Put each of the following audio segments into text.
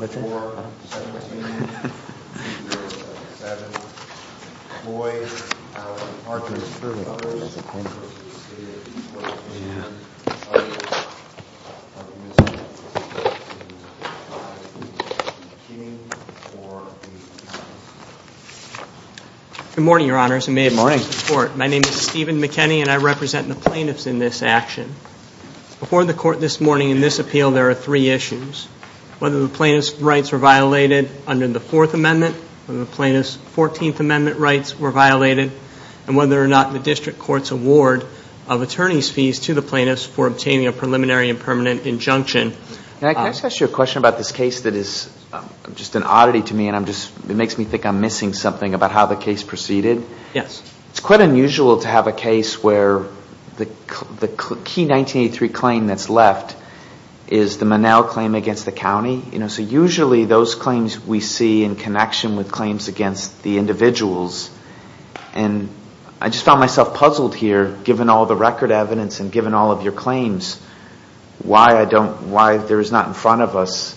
16-2704-17-2007 Good morning, Your Honors, and may it please the Court. My name is Stephen McKinney, and I represent the plaintiffs in this action. Before the Court this morning in this appeal, there are three issues. Whether the plaintiff's rights were violated under the Fourth Amendment, whether the plaintiff's Fourteenth Amendment rights were violated, and whether or not the District Court's award of attorney's fees to the plaintiffs for obtaining a preliminary and permanent injunction. Can I ask you a question about this case that is just an oddity to me, and it makes me think I'm missing something about how the case proceeded? Yes. It's quite unusual to have a case where the key 1983 claim that's left is the Monell claim against the county. So usually those claims we see in connection with claims against the individuals. And I just found myself puzzled here, given all the record evidence and given all of your claims, why there is not in front of us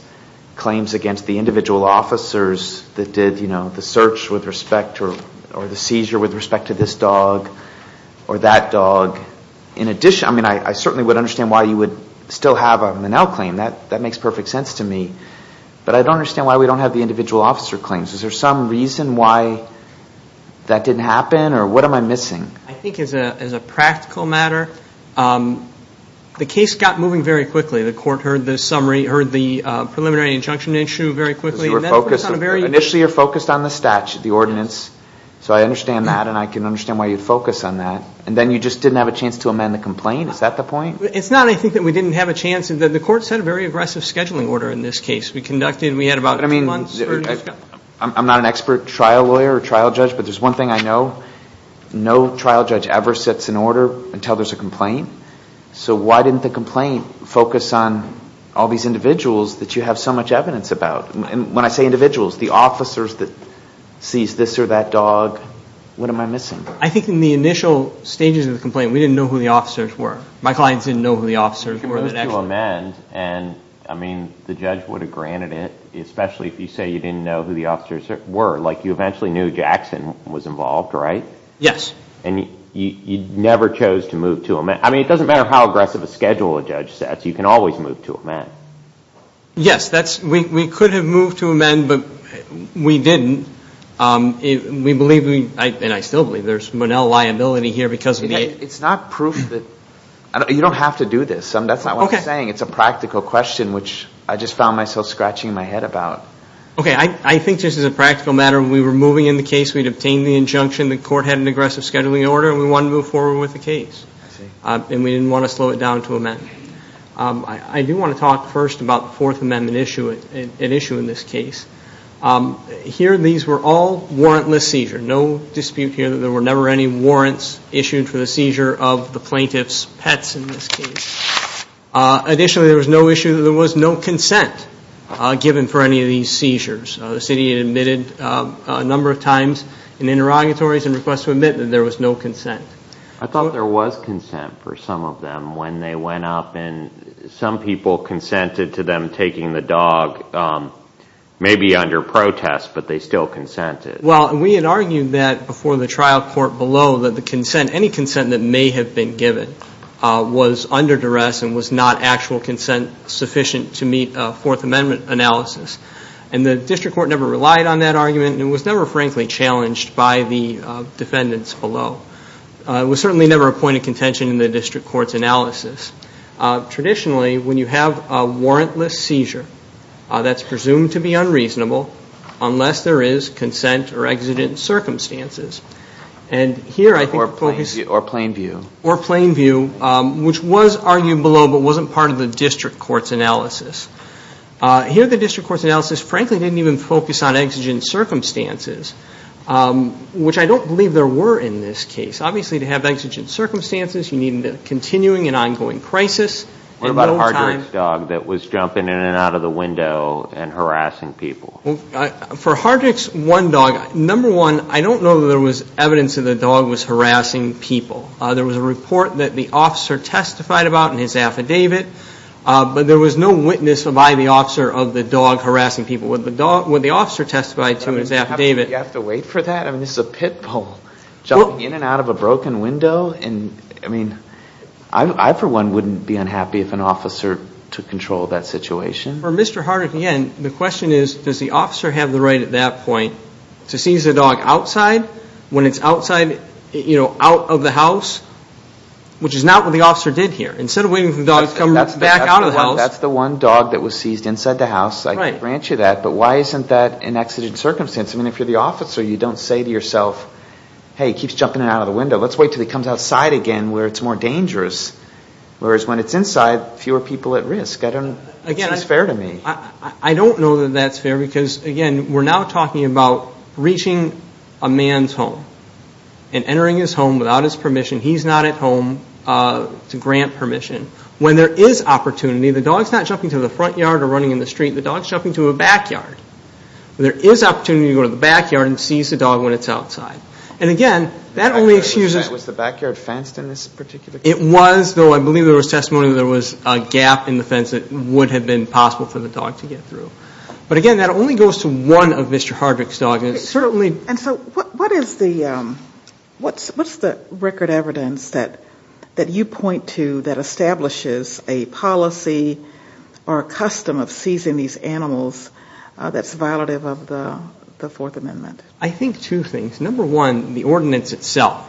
claims against the individual officers that did the search with respect or the seizure with respect to this dog or that dog. I certainly would understand why you would still have a Monell claim. That makes perfect sense to me. But I don't understand why we don't have the individual officer claims. Is there some reason why that didn't happen, or what am I missing? I think as a practical matter, the case got moving very quickly. The Court heard the preliminary injunction issue very quickly. Initially you were focused on the statute, the ordinance. So I understand that, and I can understand why you'd focus on that. And then you just didn't have a chance to amend the complaint? Is that the point? It's not, I think, that we didn't have a chance. The Court sent a very aggressive scheduling order in this case. We conducted, we had about three months. I'm not an expert trial lawyer or trial judge, but there's one thing I know. No trial judge ever sets an order until there's a complaint. So why didn't the complaint focus on all these individuals that you have so much evidence about? And when I say individuals, the officers that seized this or that dog, what am I missing? I think in the initial stages of the complaint, we didn't know who the officers were. My clients didn't know who the officers were. You moved to amend, and I mean, the judge would have granted it, especially if you say you didn't know who the officers were. Like, you eventually knew Jackson was involved, right? Yes. And you never chose to move to amend. I mean, it doesn't matter how aggressive a schedule a judge sets. You can always move to amend. Yes, we could have moved to amend, but we didn't. We believe, and I still believe, there's Monell liability here because of the… It's not proof that, you don't have to do this. That's not what I'm saying. Okay. It's a practical question, which I just found myself scratching my head about. Okay, I think this is a practical matter. When we were moving in the case, we'd obtained the injunction. The court had an aggressive scheduling order, and we wanted to move forward with the case. I see. And we didn't want to slow it down to amend. I do want to talk first about the Fourth Amendment issue, an issue in this case. Here, these were all warrantless seizures. No dispute here that there were never any warrants issued for the seizure of the plaintiff's pets in this case. Additionally, there was no issue that there was no consent given for any of these seizures. The city had admitted a number of times in interrogatories and requests to admit that there was no consent. I thought there was consent for some of them when they went up, and some people consented to them taking the dog, maybe under protest, but they still consented. Well, we had argued that before the trial court below that the consent, any consent that may have been given, was under duress and was not actual consent sufficient to meet a Fourth Amendment analysis. And the district court never relied on that argument, and it was never, frankly, challenged by the defendants below. It was certainly never a point of contention in the district court's analysis. Traditionally, when you have a warrantless seizure, that's presumed to be unreasonable unless there is consent or exigent circumstances. Or plain view. Or plain view, which was argued below but wasn't part of the district court's analysis. Here, the district court's analysis, frankly, didn't even focus on exigent circumstances, which I don't believe there were in this case. Obviously, to have exigent circumstances, you need a continuing and ongoing crisis. What about a hard-dressed dog that was jumping in and out of the window and harassing people? For a hard-dressed one dog, number one, I don't know that there was evidence that the dog was harassing people. There was a report that the officer testified about in his affidavit, but there was no witness by the officer of the dog harassing people. What the officer testified to in his affidavit... Do you have to wait for that? I mean, this is a pit bull jumping in and out of a broken window. And, I mean, I for one wouldn't be unhappy if an officer took control of that situation. For Mr. Harder, again, the question is, does the officer have the right at that point to seize the dog outside, when it's outside, you know, out of the house, which is not what the officer did here. Instead of waiting for the dog to come back out of the house... That's the one dog that was seized inside the house. I can grant you that. But why isn't that an exigent circumstance? I mean, if you're the officer, you don't say to yourself, hey, he keeps jumping in and out of the window. Let's wait until he comes outside again where it's more dangerous. Whereas when it's inside, fewer people at risk. I don't know if that's fair to me. I don't know that that's fair because, again, we're now talking about reaching a man's home and entering his home without his permission. He's not at home to grant permission. When there is opportunity, the dog's not jumping to the front yard or running in the street. The dog's jumping to a backyard. There is opportunity to go to the backyard and seize the dog when it's outside. And, again, that only excuses... Was the backyard fenced in this particular case? It was, though I believe there was testimony that there was a gap in the fence that would have been possible for the dog to get through. But, again, that only goes to one of Mr. Harder's dogs. And so what is the record evidence that you point to that establishes a policy or a custom of seizing these animals that's violative of the Fourth Amendment? I think two things. Number one, the ordinance itself,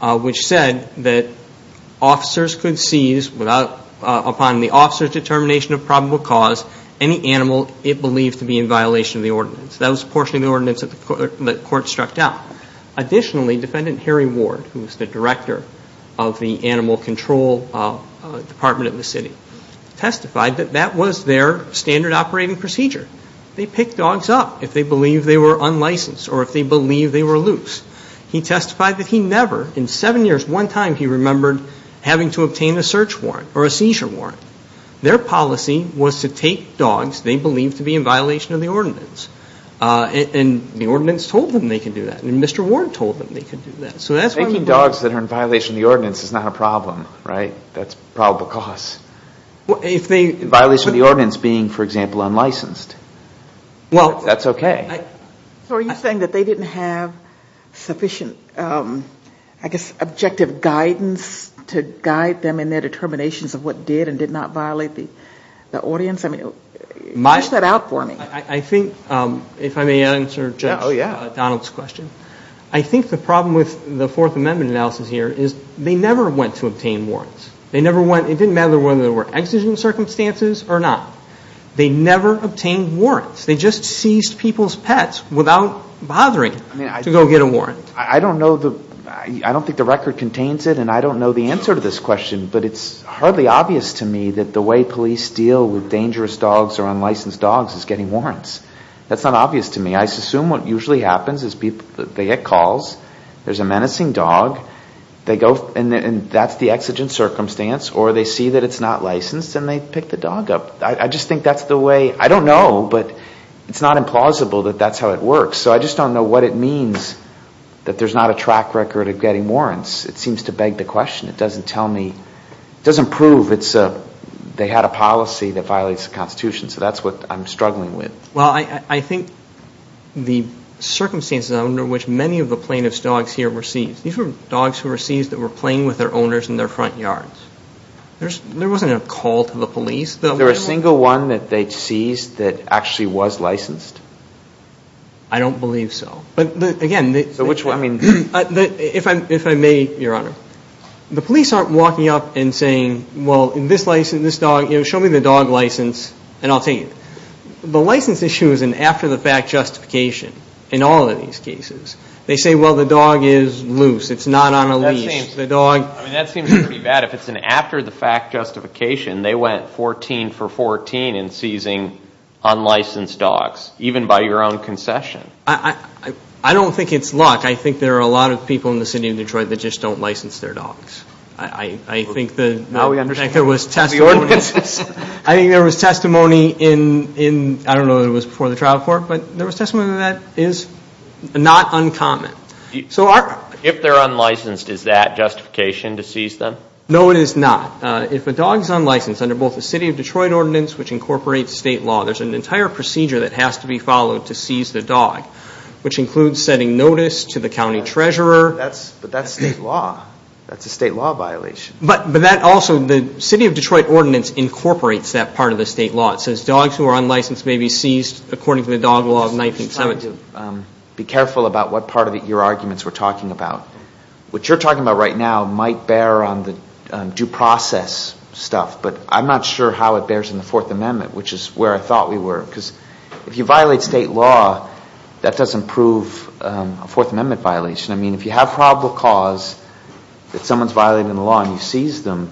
which said that officers could seize upon the officer's determination of probable cause any animal it believed to be in violation of the ordinance. That was a portion of the ordinance that the court struck down. Additionally, Defendant Harry Ward, who was the director of the Animal Control Department of the city, testified that that was their standard operating procedure. They pick dogs up if they believe they were unlicensed or if they believe they were loose. He testified that he never, in seven years, one time he remembered having to obtain a search warrant or a seizure warrant. Their policy was to take dogs they believed to be in violation of the ordinance. And the ordinance told them they could do that. And Mr. Ward told them they could do that. Taking dogs that are in violation of the ordinance is not a problem, right? That's probable cause. Violation of the ordinance being, for example, unlicensed. That's okay. So are you saying that they didn't have sufficient, I guess, objective guidance to guide them in their determinations of what did and did not violate the ordinance? I mean, push that out for me. I think, if I may answer Judge Donald's question, I think the problem with the Fourth Amendment analysis here is they never went to obtain warrants. It didn't matter whether there were exigent circumstances or not. They never obtained warrants. I don't think the record contains it, and I don't know the answer to this question, but it's hardly obvious to me that the way police deal with dangerous dogs or unlicensed dogs is getting warrants. That's not obvious to me. I assume what usually happens is they get calls, there's a menacing dog, and that's the exigent circumstance, or they see that it's not licensed and they pick the dog up. I just think that's the way, I don't know, but it's not implausible that that's how it works. So I just don't know what it means that there's not a track record of getting warrants. It seems to beg the question. It doesn't tell me, it doesn't prove they had a policy that violates the Constitution, so that's what I'm struggling with. Well, I think the circumstances under which many of the plaintiff's dogs here were seized, these were dogs who were seized that were playing with their owners in their front yards. There wasn't a call to the police. Was there a single one that they seized that actually was licensed? I don't believe so. But, again, if I may, Your Honor, the police aren't walking up and saying, well, this license, this dog, show me the dog license and I'll take it. The license issue is an after-the-fact justification in all of these cases. They say, well, the dog is loose. It's not on a leash. I mean, that seems pretty bad. If it's an after-the-fact justification, they went 14 for 14 in seizing unlicensed dogs, even by your own concession. I don't think it's luck. I think there are a lot of people in the city of Detroit that just don't license their dogs. I think there was testimony in, I don't know if it was before the trial court, but there was testimony that is not uncommon. If they're unlicensed, is that justification to seize them? No, it is not. If a dog is unlicensed under both the city of Detroit ordinance, which incorporates state law, there's an entire procedure that has to be followed to seize the dog, which includes setting notice to the county treasurer. But that's state law. That's a state law violation. But that also, the city of Detroit ordinance incorporates that part of the state law. It says dogs who are unlicensed may be seized according to the dog law of 1970. I'm going to be careful about what part of your arguments we're talking about. What you're talking about right now might bear on the due process stuff, but I'm not sure how it bears in the Fourth Amendment, which is where I thought we were. Because if you violate state law, that doesn't prove a Fourth Amendment violation. I mean, if you have probable cause that someone's violating the law and you seize them,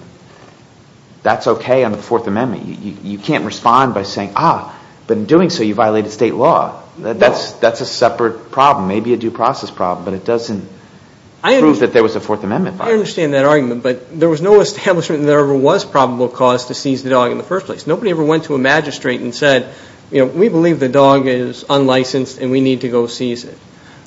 that's okay under the Fourth Amendment. You can't respond by saying, ah, but in doing so you violated state law. That's a separate problem, maybe a due process problem, but it doesn't prove that there was a Fourth Amendment violation. I understand that argument, but there was no establishment that there ever was probable cause to seize the dog in the first place. Nobody ever went to a magistrate and said, you know, we believe the dog is unlicensed and we need to go seize it.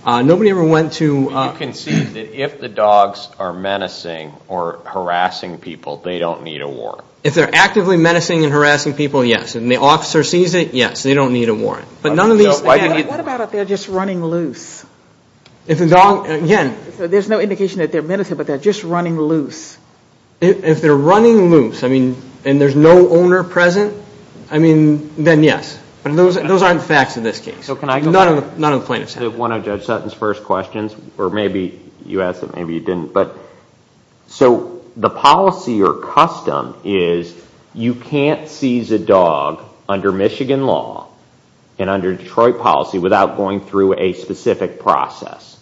Nobody ever went to – You can see that if the dogs are menacing or harassing people, they don't need a warrant. If they're actively menacing and harassing people, yes. And the officer sees it, yes, they don't need a warrant. But none of these – What about if they're just running loose? If the dog – again – There's no indication that they're menacing, but they're just running loose. If they're running loose, I mean, and there's no owner present, I mean, then yes. But those aren't facts in this case. None of the plaintiffs have. One of Judge Sutton's first questions, or maybe you asked it, maybe you didn't, so the policy or custom is you can't seize a dog under Michigan law and under Detroit policy without going through a specific process.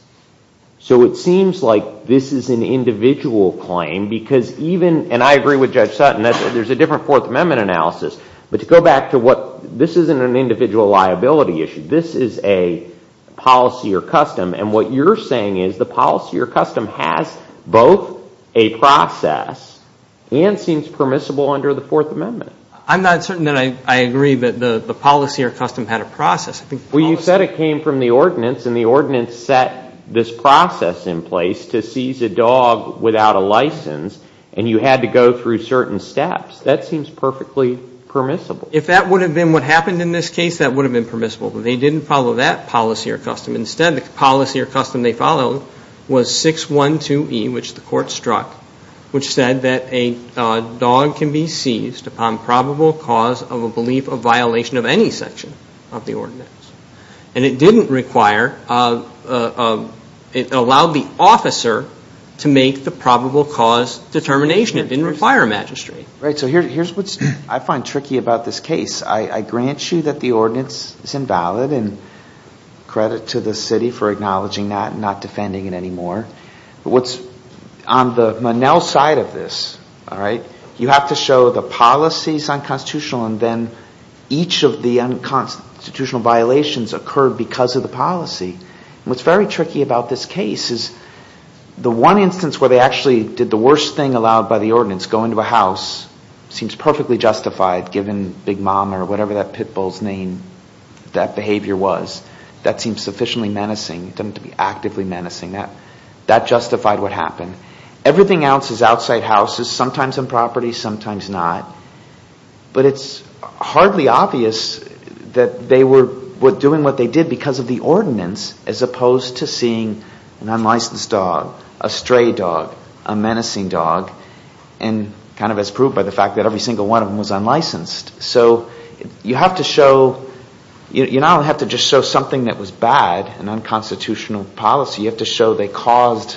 So it seems like this is an individual claim because even – and I agree with Judge Sutton. There's a different Fourth Amendment analysis. But to go back to what – this isn't an individual liability issue. This is a policy or custom. And what you're saying is the policy or custom has both a process and seems permissible under the Fourth Amendment. I'm not certain that I agree that the policy or custom had a process. Well, you said it came from the ordinance, and the ordinance set this process in place to seize a dog without a license, and you had to go through certain steps. That seems perfectly permissible. If that would have been what happened in this case, that would have been permissible. But they didn't follow that policy or custom. Instead, the policy or custom they followed was 612E, which the court struck, which said that a dog can be seized upon probable cause of a belief of violation of any section of the ordinance. And it didn't require – it allowed the officer to make the probable cause determination. It didn't require a magistrate. Right. So here's what I find tricky about this case. I grant you that the ordinance is invalid, and credit to the city for acknowledging that and not defending it anymore. What's on the Monell side of this, you have to show the policy is unconstitutional, and then each of the unconstitutional violations occurred because of the policy. What's very tricky about this case is the one instance where they actually did the worst thing allowed by the ordinance, go into a house, seems perfectly justified given Big Mama or whatever that pit bull's name, that behavior was. That seems sufficiently menacing. It doesn't have to be actively menacing. That justified what happened. Everything else is outside houses, sometimes on property, sometimes not. But it's hardly obvious that they were doing what they did because of the ordinance as opposed to seeing an unlicensed dog, a stray dog, a menacing dog, and kind of as proved by the fact that every single one of them was unlicensed. So you have to show, you not only have to just show something that was bad, an unconstitutional policy, you have to show they caused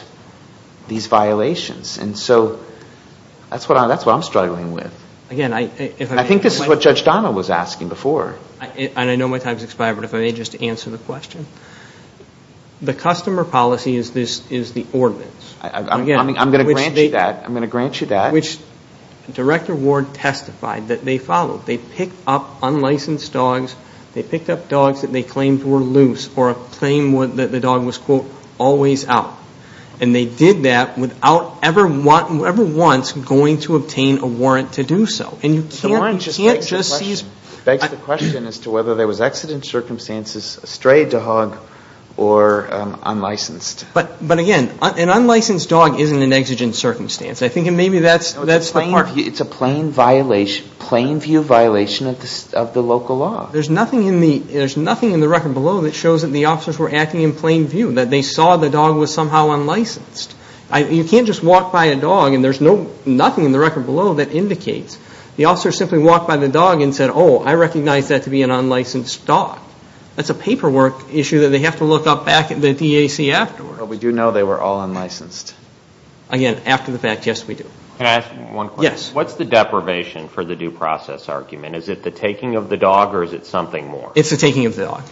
these violations. And so that's what I'm struggling with. I think this is what Judge Donna was asking before. And I know my time has expired, but if I may just answer the question. The customer policy is the ordinance. I'm going to grant you that. I'm going to grant you that. Which Director Ward testified that they followed. They picked up unlicensed dogs. They picked up dogs that they claimed were loose or a claim that the dog was, quote, always out. And they did that without ever once going to obtain a warrant to do so. And you can't just see. The warrant begs the question as to whether there was accident circumstances, a stray dog, or unlicensed. But, again, an unlicensed dog isn't an exigent circumstance. I think maybe that's the part. It's a plain view violation of the local law. There's nothing in the record below that shows that the officers were acting in plain view, that they saw the dog was somehow unlicensed. You can't just walk by a dog and there's nothing in the record below that indicates. The officers simply walked by the dog and said, oh, I recognize that to be an unlicensed dog. That's a paperwork issue that they have to look up back at the DAC afterwards. But we do know they were all unlicensed. Again, after the fact, yes, we do. Can I ask one question? Yes. What's the deprivation for the due process argument? Is it the taking of the dog or is it something more? It's the taking of the dog.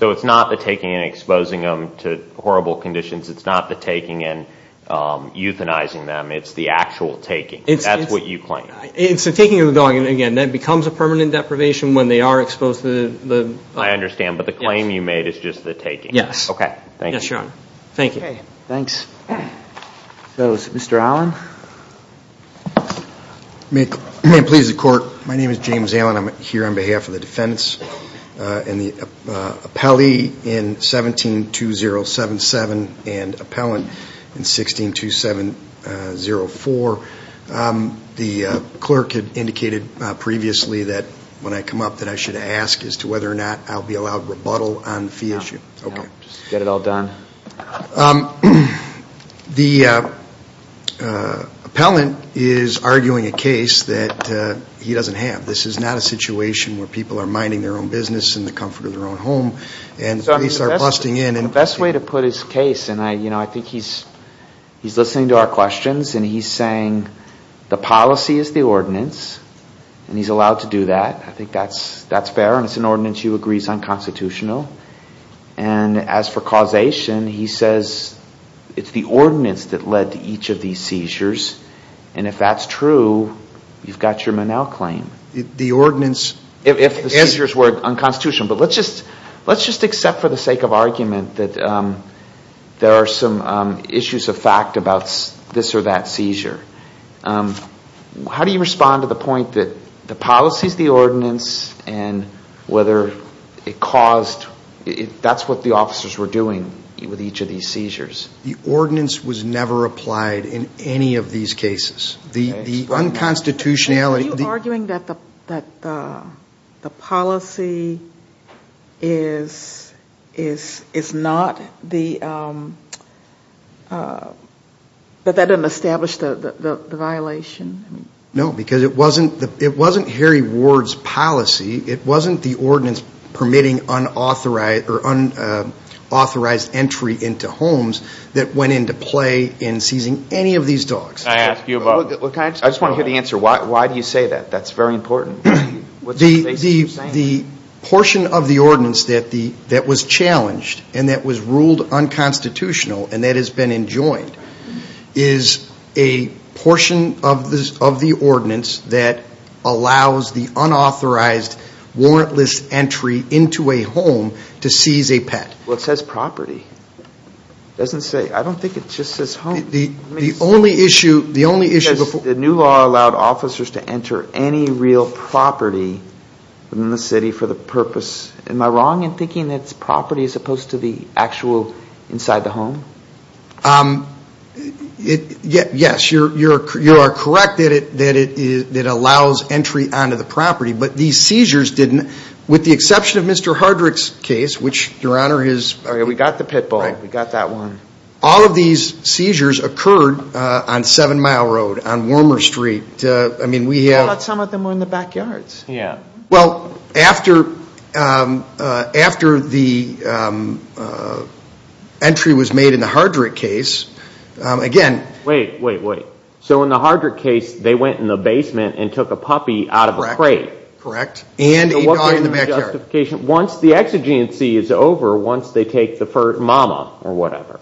So it's not the taking and exposing them to horrible conditions. It's not the taking and euthanizing them. It's the actual taking. That's what you claim. It's the taking of the dog. And, again, that becomes a permanent deprivation when they are exposed to the. I understand. But the claim you made is just the taking. Yes. Thank you. Yes, Your Honor. Thank you. Thanks. So, Mr. Allen? May it please the Court, my name is James Allen. I'm here on behalf of the defendants and the appellee in 17-2077 and appellant in 16-2704. The clerk had indicated previously that when I come up that I should ask as to whether or not I'll be allowed rebuttal on the fee issue. No. Okay. Just get it all done. The appellant is arguing a case that he doesn't have. This is not a situation where people are minding their own business in the comfort of their own home and the police are busting in. The best way to put his case, and I think he's listening to our questions, and he's saying the policy is the ordinance, and he's allowed to do that. I think that's fair, and it's an ordinance he agrees is unconstitutional. And as for causation, he says it's the ordinance that led to each of these seizures, and if that's true, you've got your manel claim. If the seizures were unconstitutional, but let's just accept for the sake of argument that there are some issues of fact about this or that seizure. How do you respond to the point that the policy is the ordinance and whether it caused, that's what the officers were doing with each of these seizures? The ordinance was never applied in any of these cases. The unconstitutionality. Are you arguing that the policy is not the, that that doesn't establish the violation? No, because it wasn't Harry Ward's policy. It wasn't the ordinance permitting unauthorized entry into homes that went into play in seizing any of these dogs. I just want to hear the answer. Why do you say that? That's very important. The portion of the ordinance that was challenged and that was ruled unconstitutional and that has been enjoined is a portion of the ordinance that allows the unauthorized warrantless entry into a home to seize a pet. Well, it says property. It doesn't say, I don't think it just says home. The only issue, the only issue. The new law allowed officers to enter any real property in the city for the purpose. Am I wrong in thinking that it's property as opposed to the actual inside the home? Yes, you're correct that it allows entry onto the property, but these seizures didn't. With the exception of Mr. Hardrick's case, which your honor is. We got the pit bull. We got that one. All of these seizures occurred on 7 Mile Road, on Warmer Street. I thought some of them were in the backyards. Well, after the entry was made in the Hardrick case, again. Wait, wait, wait. So in the Hardrick case, they went in the basement and took a puppy out of a crate. Correct. And a dog in the backyard. Once the exigency is over, once they take the mama or whatever.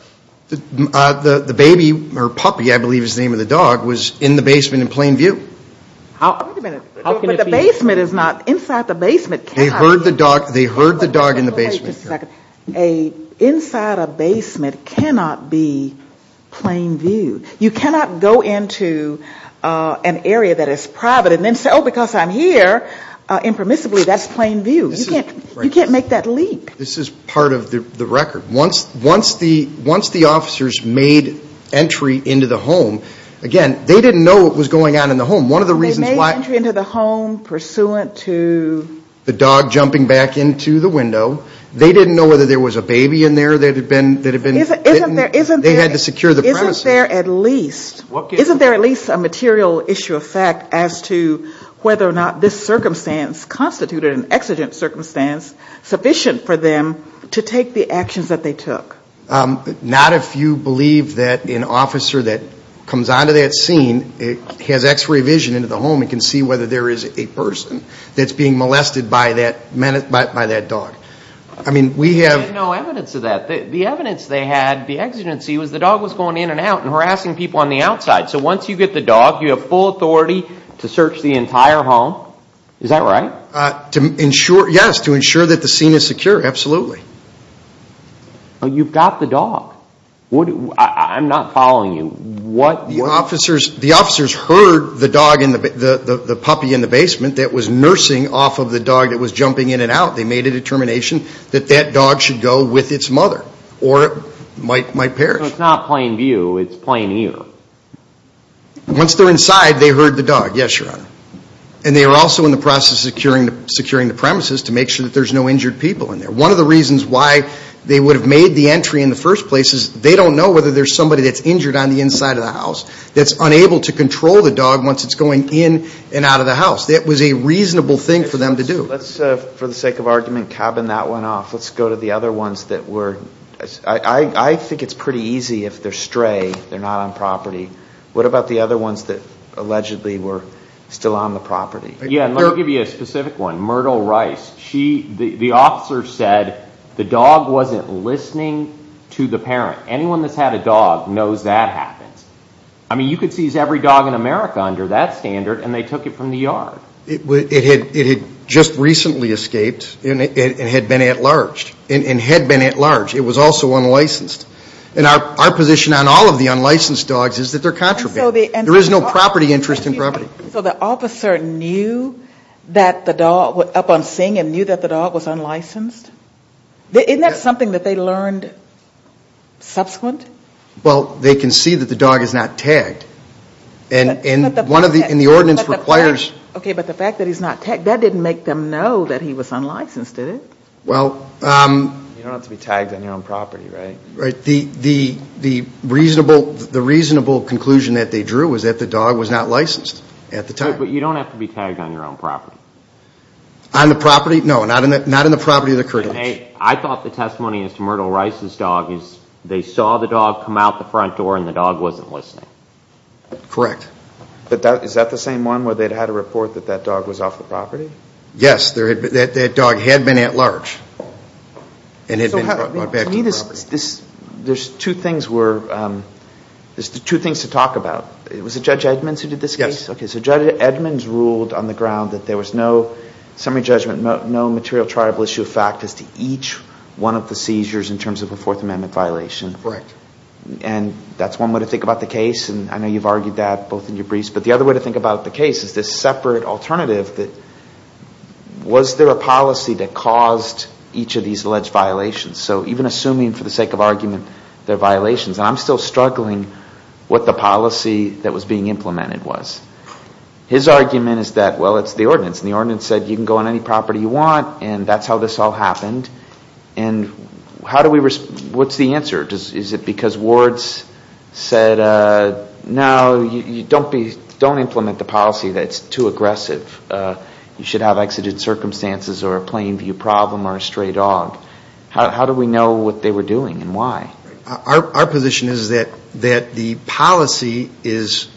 The baby or puppy, I believe is the name of the dog, was in the basement in plain view. Wait a minute. But the basement is not, inside the basement cannot be. They heard the dog in the basement. Inside a basement cannot be plain view. You cannot go into an area that is private and then say, oh, because I'm here. Impermissibly, that's plain view. You can't make that leap. This is part of the record. Once the officers made entry into the home, again, they didn't know what was going on in the home. One of the reasons why. They made entry into the home pursuant to. The dog jumping back into the window. They didn't know whether there was a baby in there that had been bitten. They had to secure the premises. Isn't there at least, isn't there at least a material issue of fact as to whether or not this circumstance constituted an exigent circumstance sufficient for them to take the actions that they took? Not if you believe that an officer that comes onto that scene has x-ray vision into the home and can see whether there is a person that's being molested by that dog. I mean, we have. There's no evidence of that. The evidence they had, the exigency, was the dog was going in and out and harassing people on the outside. So once you get the dog, you have full authority to search the entire home. Is that right? Yes, to ensure that the scene is secure. Absolutely. But you've got the dog. I'm not following you. What. The officers heard the puppy in the basement that was nursing off of the dog that was jumping in and out. They made a determination that that dog should go with its mother or it might perish. So it's not plain view. It's plain ear. Once they're inside, they heard the dog. Yes, Your Honor. And they were also in the process of securing the premises to make sure that there's no injured people in there. One of the reasons why they would have made the entry in the first place is they don't know whether there's somebody that's injured on the inside of the house that's unable to control the dog once it's going in and out of the house. That was a reasonable thing for them to do. Let's, for the sake of argument, cabin that one off. Let's go to the other ones that were. I think it's pretty easy if they're stray, they're not on property. What about the other ones that allegedly were still on the property? Let me give you a specific one. Myrtle Rice. The officer said the dog wasn't listening to the parent. Anyone that's had a dog knows that happens. I mean, you could seize every dog in America under that standard, and they took it from the yard. It had just recently escaped and had been at large. It had been at large. It was also unlicensed. And our position on all of the unlicensed dogs is that they're contraband. There is no property interest in property. So the officer knew that the dog was up on Sing and knew that the dog was unlicensed? Isn't that something that they learned subsequent? Well, they can see that the dog is not tagged. And the ordinance requires. Okay, but the fact that he's not tagged, that didn't make them know that he was unlicensed, did it? Well. You don't have to be tagged on your own property, right? Right. The reasonable conclusion that they drew was that the dog was not licensed at the time. But you don't have to be tagged on your own property? On the property? No, not in the property of the critics. I thought the testimony as to Myrtle Rice's dog is they saw the dog come out the front door and the dog wasn't listening. Correct. But is that the same one where they'd had a report that that dog was off the property? Yes, that dog had been at large and had been brought back to the property. There's two things to talk about. Yes. Okay, so Judge Edmonds ruled on the ground that there was no summary judgment, no material trialable issue of fact as to each one of the seizures in terms of a Fourth Amendment violation. Correct. And that's one way to think about the case, and I know you've argued that both in your briefs. But the other way to think about the case is this separate alternative that was there a policy that caused each of these alleged violations? So even assuming for the sake of argument they're violations, and I'm still struggling what the policy that was being implemented was. His argument is that, well, it's the ordinance. And the ordinance said you can go on any property you want, and that's how this all happened. And what's the answer? Is it because wards said, no, don't implement the policy that's too aggressive. You should have exited circumstances or a plain view problem or a stray dog. How do we know what they were doing and why? Our position is that the policy is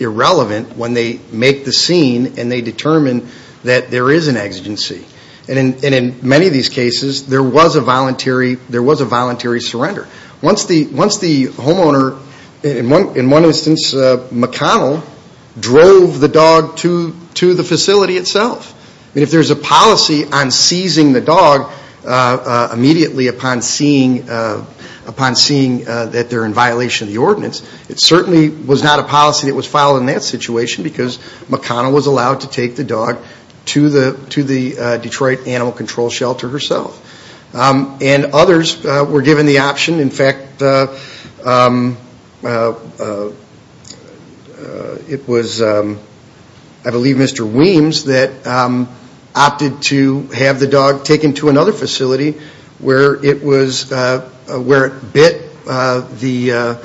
irrelevant when they make the scene and they determine that there is an exigency. And in many of these cases, there was a voluntary surrender. Once the homeowner, in one instance McConnell, drove the dog to the facility itself. If there's a policy on seizing the dog immediately upon seeing that they're in violation of the ordinance, it certainly was not a policy that was followed in that situation because McConnell was allowed to take the dog to the Detroit Animal Control Shelter herself. And others were given the option. In fact, it was, I believe, Mr. Weems that opted to have the dog taken to another facility where it bit the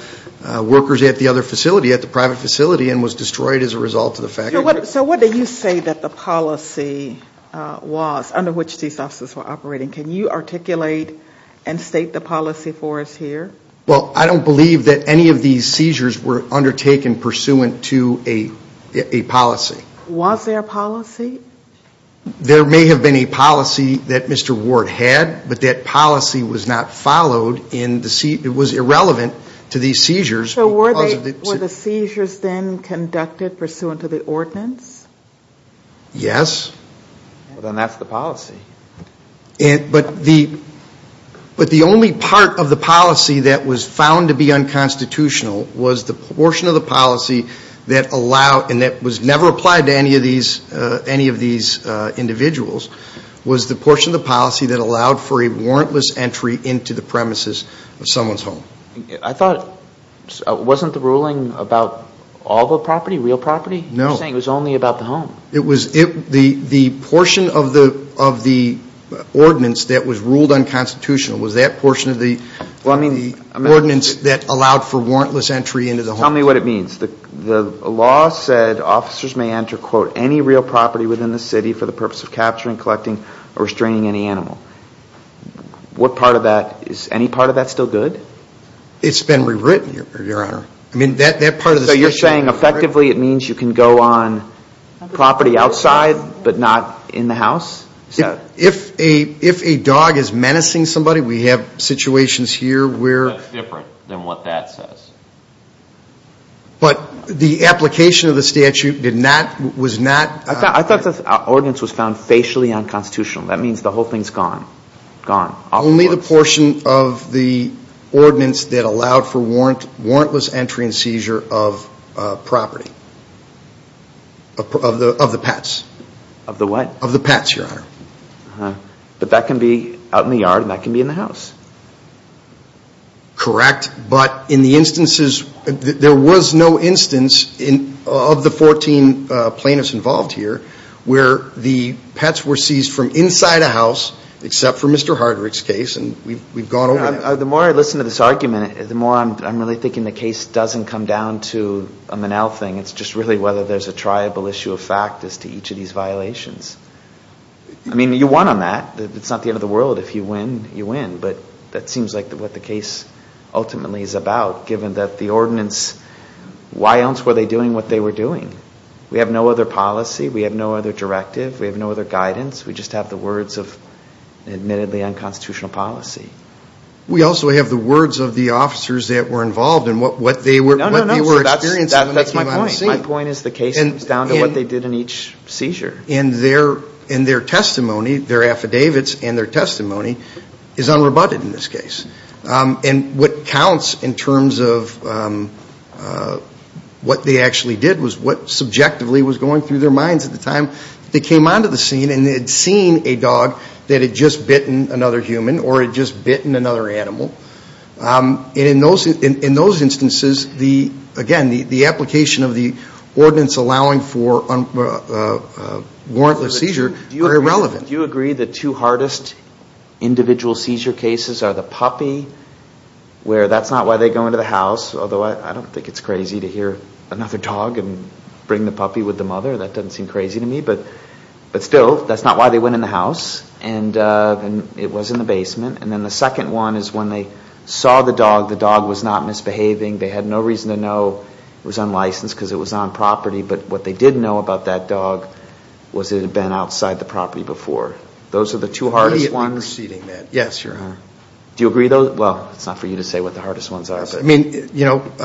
workers at the other facility, at the private facility, and was destroyed as a result of the fact. So what do you say that the policy was under which these officers were operating? Can you articulate and state the policy for us here? Well, I don't believe that any of these seizures were undertaken pursuant to a policy. Was there a policy? There may have been a policy that Mr. Ward had, but that policy was not followed. It was irrelevant to these seizures. So were the seizures then conducted pursuant to the ordinance? Yes. Well, then that's the policy. But the only part of the policy that was found to be unconstitutional was the portion of the policy that allowed, and that was never applied to any of these individuals, was the portion of the policy that allowed for a warrantless entry into the premises of someone's home. I thought, wasn't the ruling about all the property, real property? You're saying it was only about the home. It was the portion of the ordinance that was ruled unconstitutional, was that portion of the ordinance that allowed for warrantless entry into the home. Tell me what it means. The law said officers may enter, quote, any real property within the city for the purpose of capturing, collecting, or restraining any animal. What part of that, is any part of that still good? It's been rewritten, Your Honor. So you're saying effectively it means you can go on property outside, but not in the house? If a dog is menacing somebody, we have situations here where... That's different than what that says. But the application of the statute did not, was not... I thought the ordinance was found facially unconstitutional. That means the whole thing's gone. Gone. Only the portion of the ordinance that allowed for warrantless entry and seizure of property. Of the pets. Of the what? Of the pets, Your Honor. But that can be out in the yard, and that can be in the house. Correct, but in the instances, there was no instance of the 14 plaintiffs involved here where the pets were seized from inside a house, except for Mr. Hardrick's case, and we've gone over that. The more I listen to this argument, the more I'm really thinking the case doesn't come down to a Manel thing. It's just really whether there's a triable issue of fact as to each of these violations. I mean, you won on that. It's not the end of the world. If you win, you win, but that seems like what the case ultimately is about, given that the ordinance, why else were they doing what they were doing? We have no other policy. We have no other directive. We have no other guidance. We just have the words of admittedly unconstitutional policy. We also have the words of the officers that were involved in what they were experiencing when they came on the scene. No, no, no, that's my point. My point is the case comes down to what they did in each seizure. And their testimony, their affidavits and their testimony is unrebutted in this case. And what counts in terms of what they actually did was what subjectively was going through their minds at the time. They came onto the scene and had seen a dog that had just bitten another human or had just bitten another animal. And in those instances, again, the application of the ordinance allowing for warrantless seizure are irrelevant. Do you agree the two hardest individual seizure cases are the puppy, where that's not why they go into the house, although I don't think it's crazy to hear another dog and bring the puppy with the mother. That doesn't seem crazy to me. But still, that's not why they went in the house. And it was in the basement. And then the second one is when they saw the dog, the dog was not misbehaving. They had no reason to know it was unlicensed because it was on property. But what they did know about that dog was it had been outside the property before. Those are the two hardest ones. Immediately preceding that, yes, Your Honor. Do you agree, though? Well, it's not for you to say what the hardest ones are. I mean, you know. But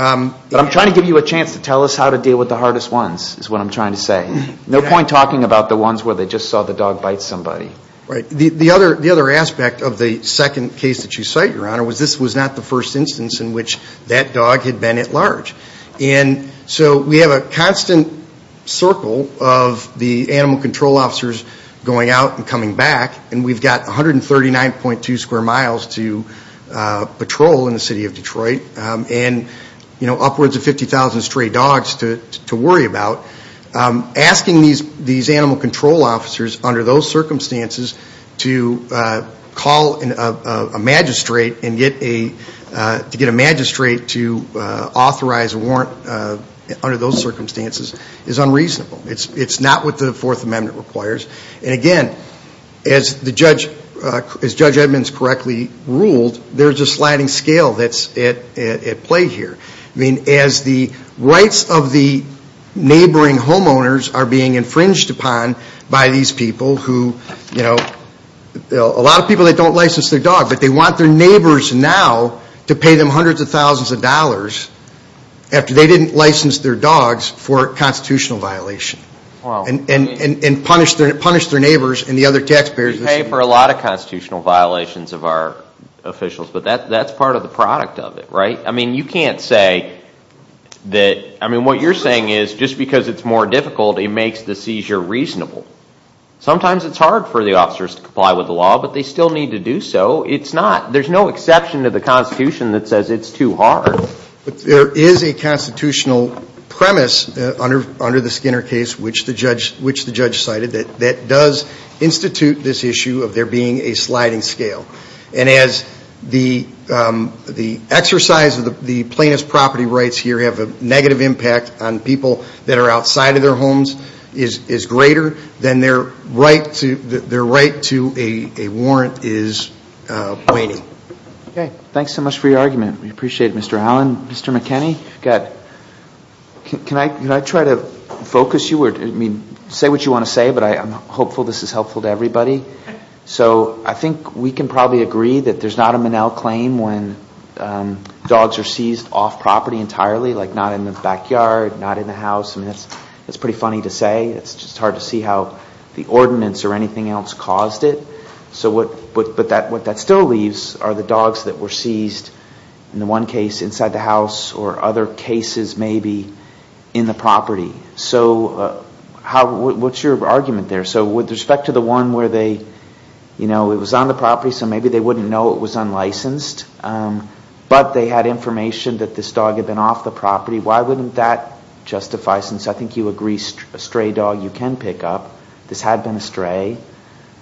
I'm trying to give you a chance to tell us how to deal with the hardest ones is what I'm trying to say. No point talking about the ones where they just saw the dog bite somebody. Right. The other aspect of the second case that you cite, Your Honor, was this was not the first instance in which that dog had been at large. And so we have a constant circle of the animal control officers going out and coming back. And we've got 139.2 square miles to patrol in the city of Detroit and upwards of 50,000 stray dogs to worry about. Asking these animal control officers under those circumstances to call a magistrate and get a magistrate to authorize a warrant under those circumstances is unreasonable. It's not what the Fourth Amendment requires. And, again, as Judge Edmonds correctly ruled, there's a sliding scale that's at play here. I mean, as the rights of the neighboring homeowners are being infringed upon by these people who, you know, a lot of people that don't license their dog, but they want their neighbors now to pay them hundreds of thousands of dollars after they didn't license their dogs for constitutional violation. And punish their neighbors and the other taxpayers. We pay for a lot of constitutional violations of our officials, but that's part of the product of it, right? I mean, you can't say that, I mean, what you're saying is just because it's more difficult, it makes the seizure reasonable. Sometimes it's hard for the officers to comply with the law, but they still need to do so. It's not. There's no exception to the Constitution that says it's too hard. There is a constitutional premise under the Skinner case, which the judge cited, that does institute this issue of there being a sliding scale. And as the exercise of the plaintiff's property rights here have a negative impact on people that are outside of their homes is greater, then their right to a warrant is waning. Okay, thanks so much for your argument. We appreciate it, Mr. Allen. Mr. McKinney, can I try to focus you? I mean, say what you want to say, but I'm hopeful this is helpful to everybody. So I think we can probably agree that there's not a Minnell claim when dogs are seized off property entirely, like not in the backyard, not in the house. I mean, that's pretty funny to say. It's just hard to see how the ordinance or anything else caused it. But what that still leaves are the dogs that were seized in the one case inside the house or other cases maybe in the property. So what's your argument there? So with respect to the one where it was on the property, so maybe they wouldn't know it was unlicensed, but they had information that this dog had been off the property, why wouldn't that justify? Since I think you agree a stray dog you can pick up. This had been a stray.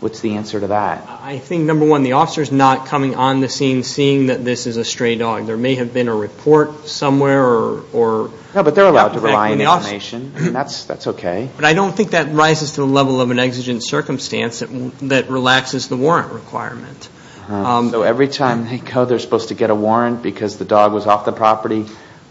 What's the answer to that? I think, number one, the officer's not coming on the scene seeing that this is a stray dog. There may have been a report somewhere. No, but they're allowed to rely on information, and that's okay. But I don't think that rises to the level of an exigent circumstance that relaxes the warrant requirement. So every time they go they're supposed to get a warrant because the dog was off the property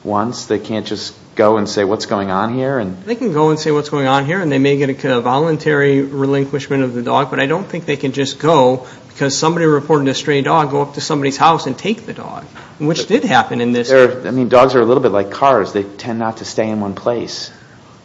once? They can't just go and say what's going on here? They can go and say what's going on here, and they may get a voluntary relinquishment of the dog. But I don't think they can just go because somebody reported a stray dog, go up to somebody's house and take the dog, which did happen in this case. I mean, dogs are a little bit like cars. They tend not to stay in one place.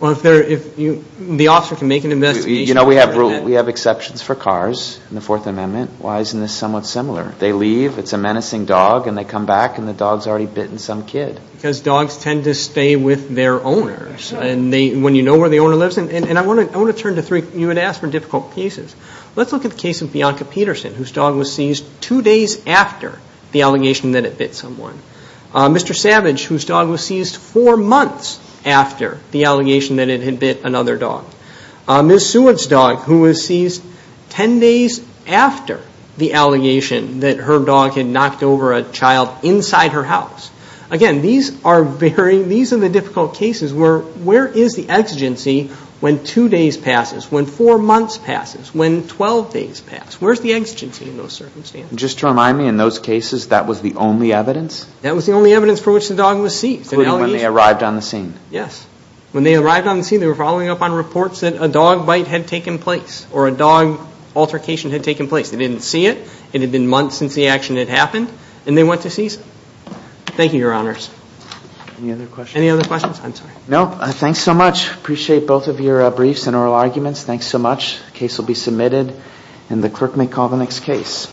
Well, if the officer can make an investigation. You know, we have exceptions for cars in the Fourth Amendment. Why isn't this somewhat similar? They leave, it's a menacing dog, and they come back and the dog's already bitten some kid. Because dogs tend to stay with their owners. And when you know where the owner lives, and I want to turn to three, you had asked for difficult cases. Let's look at the case of Bianca Peterson, whose dog was seized two days after the allegation that it bit someone. Mr. Savage, whose dog was seized four months after the allegation that it had bit another dog. Ms. Seward's dog, who was seized ten days after the allegation that her dog had knocked over a child inside her house. Again, these are varying, these are the difficult cases where where is the exigency when two days passes, when four months passes, when 12 days pass? Where's the exigency in those circumstances? Just to remind me, in those cases, that was the only evidence? That was the only evidence for which the dog was seized. Including when they arrived on the scene? Yes. When they arrived on the scene, they were following up on reports that a dog bite had taken place, or a dog altercation had taken place. They didn't see it, it had been months since the action had happened, and they went to seize it. Thank you, your honors. Any other questions? Any other questions? I'm sorry. No, thanks so much. Appreciate both of your briefs and oral arguments. Thanks so much. The case will be submitted, and the clerk may call the next case.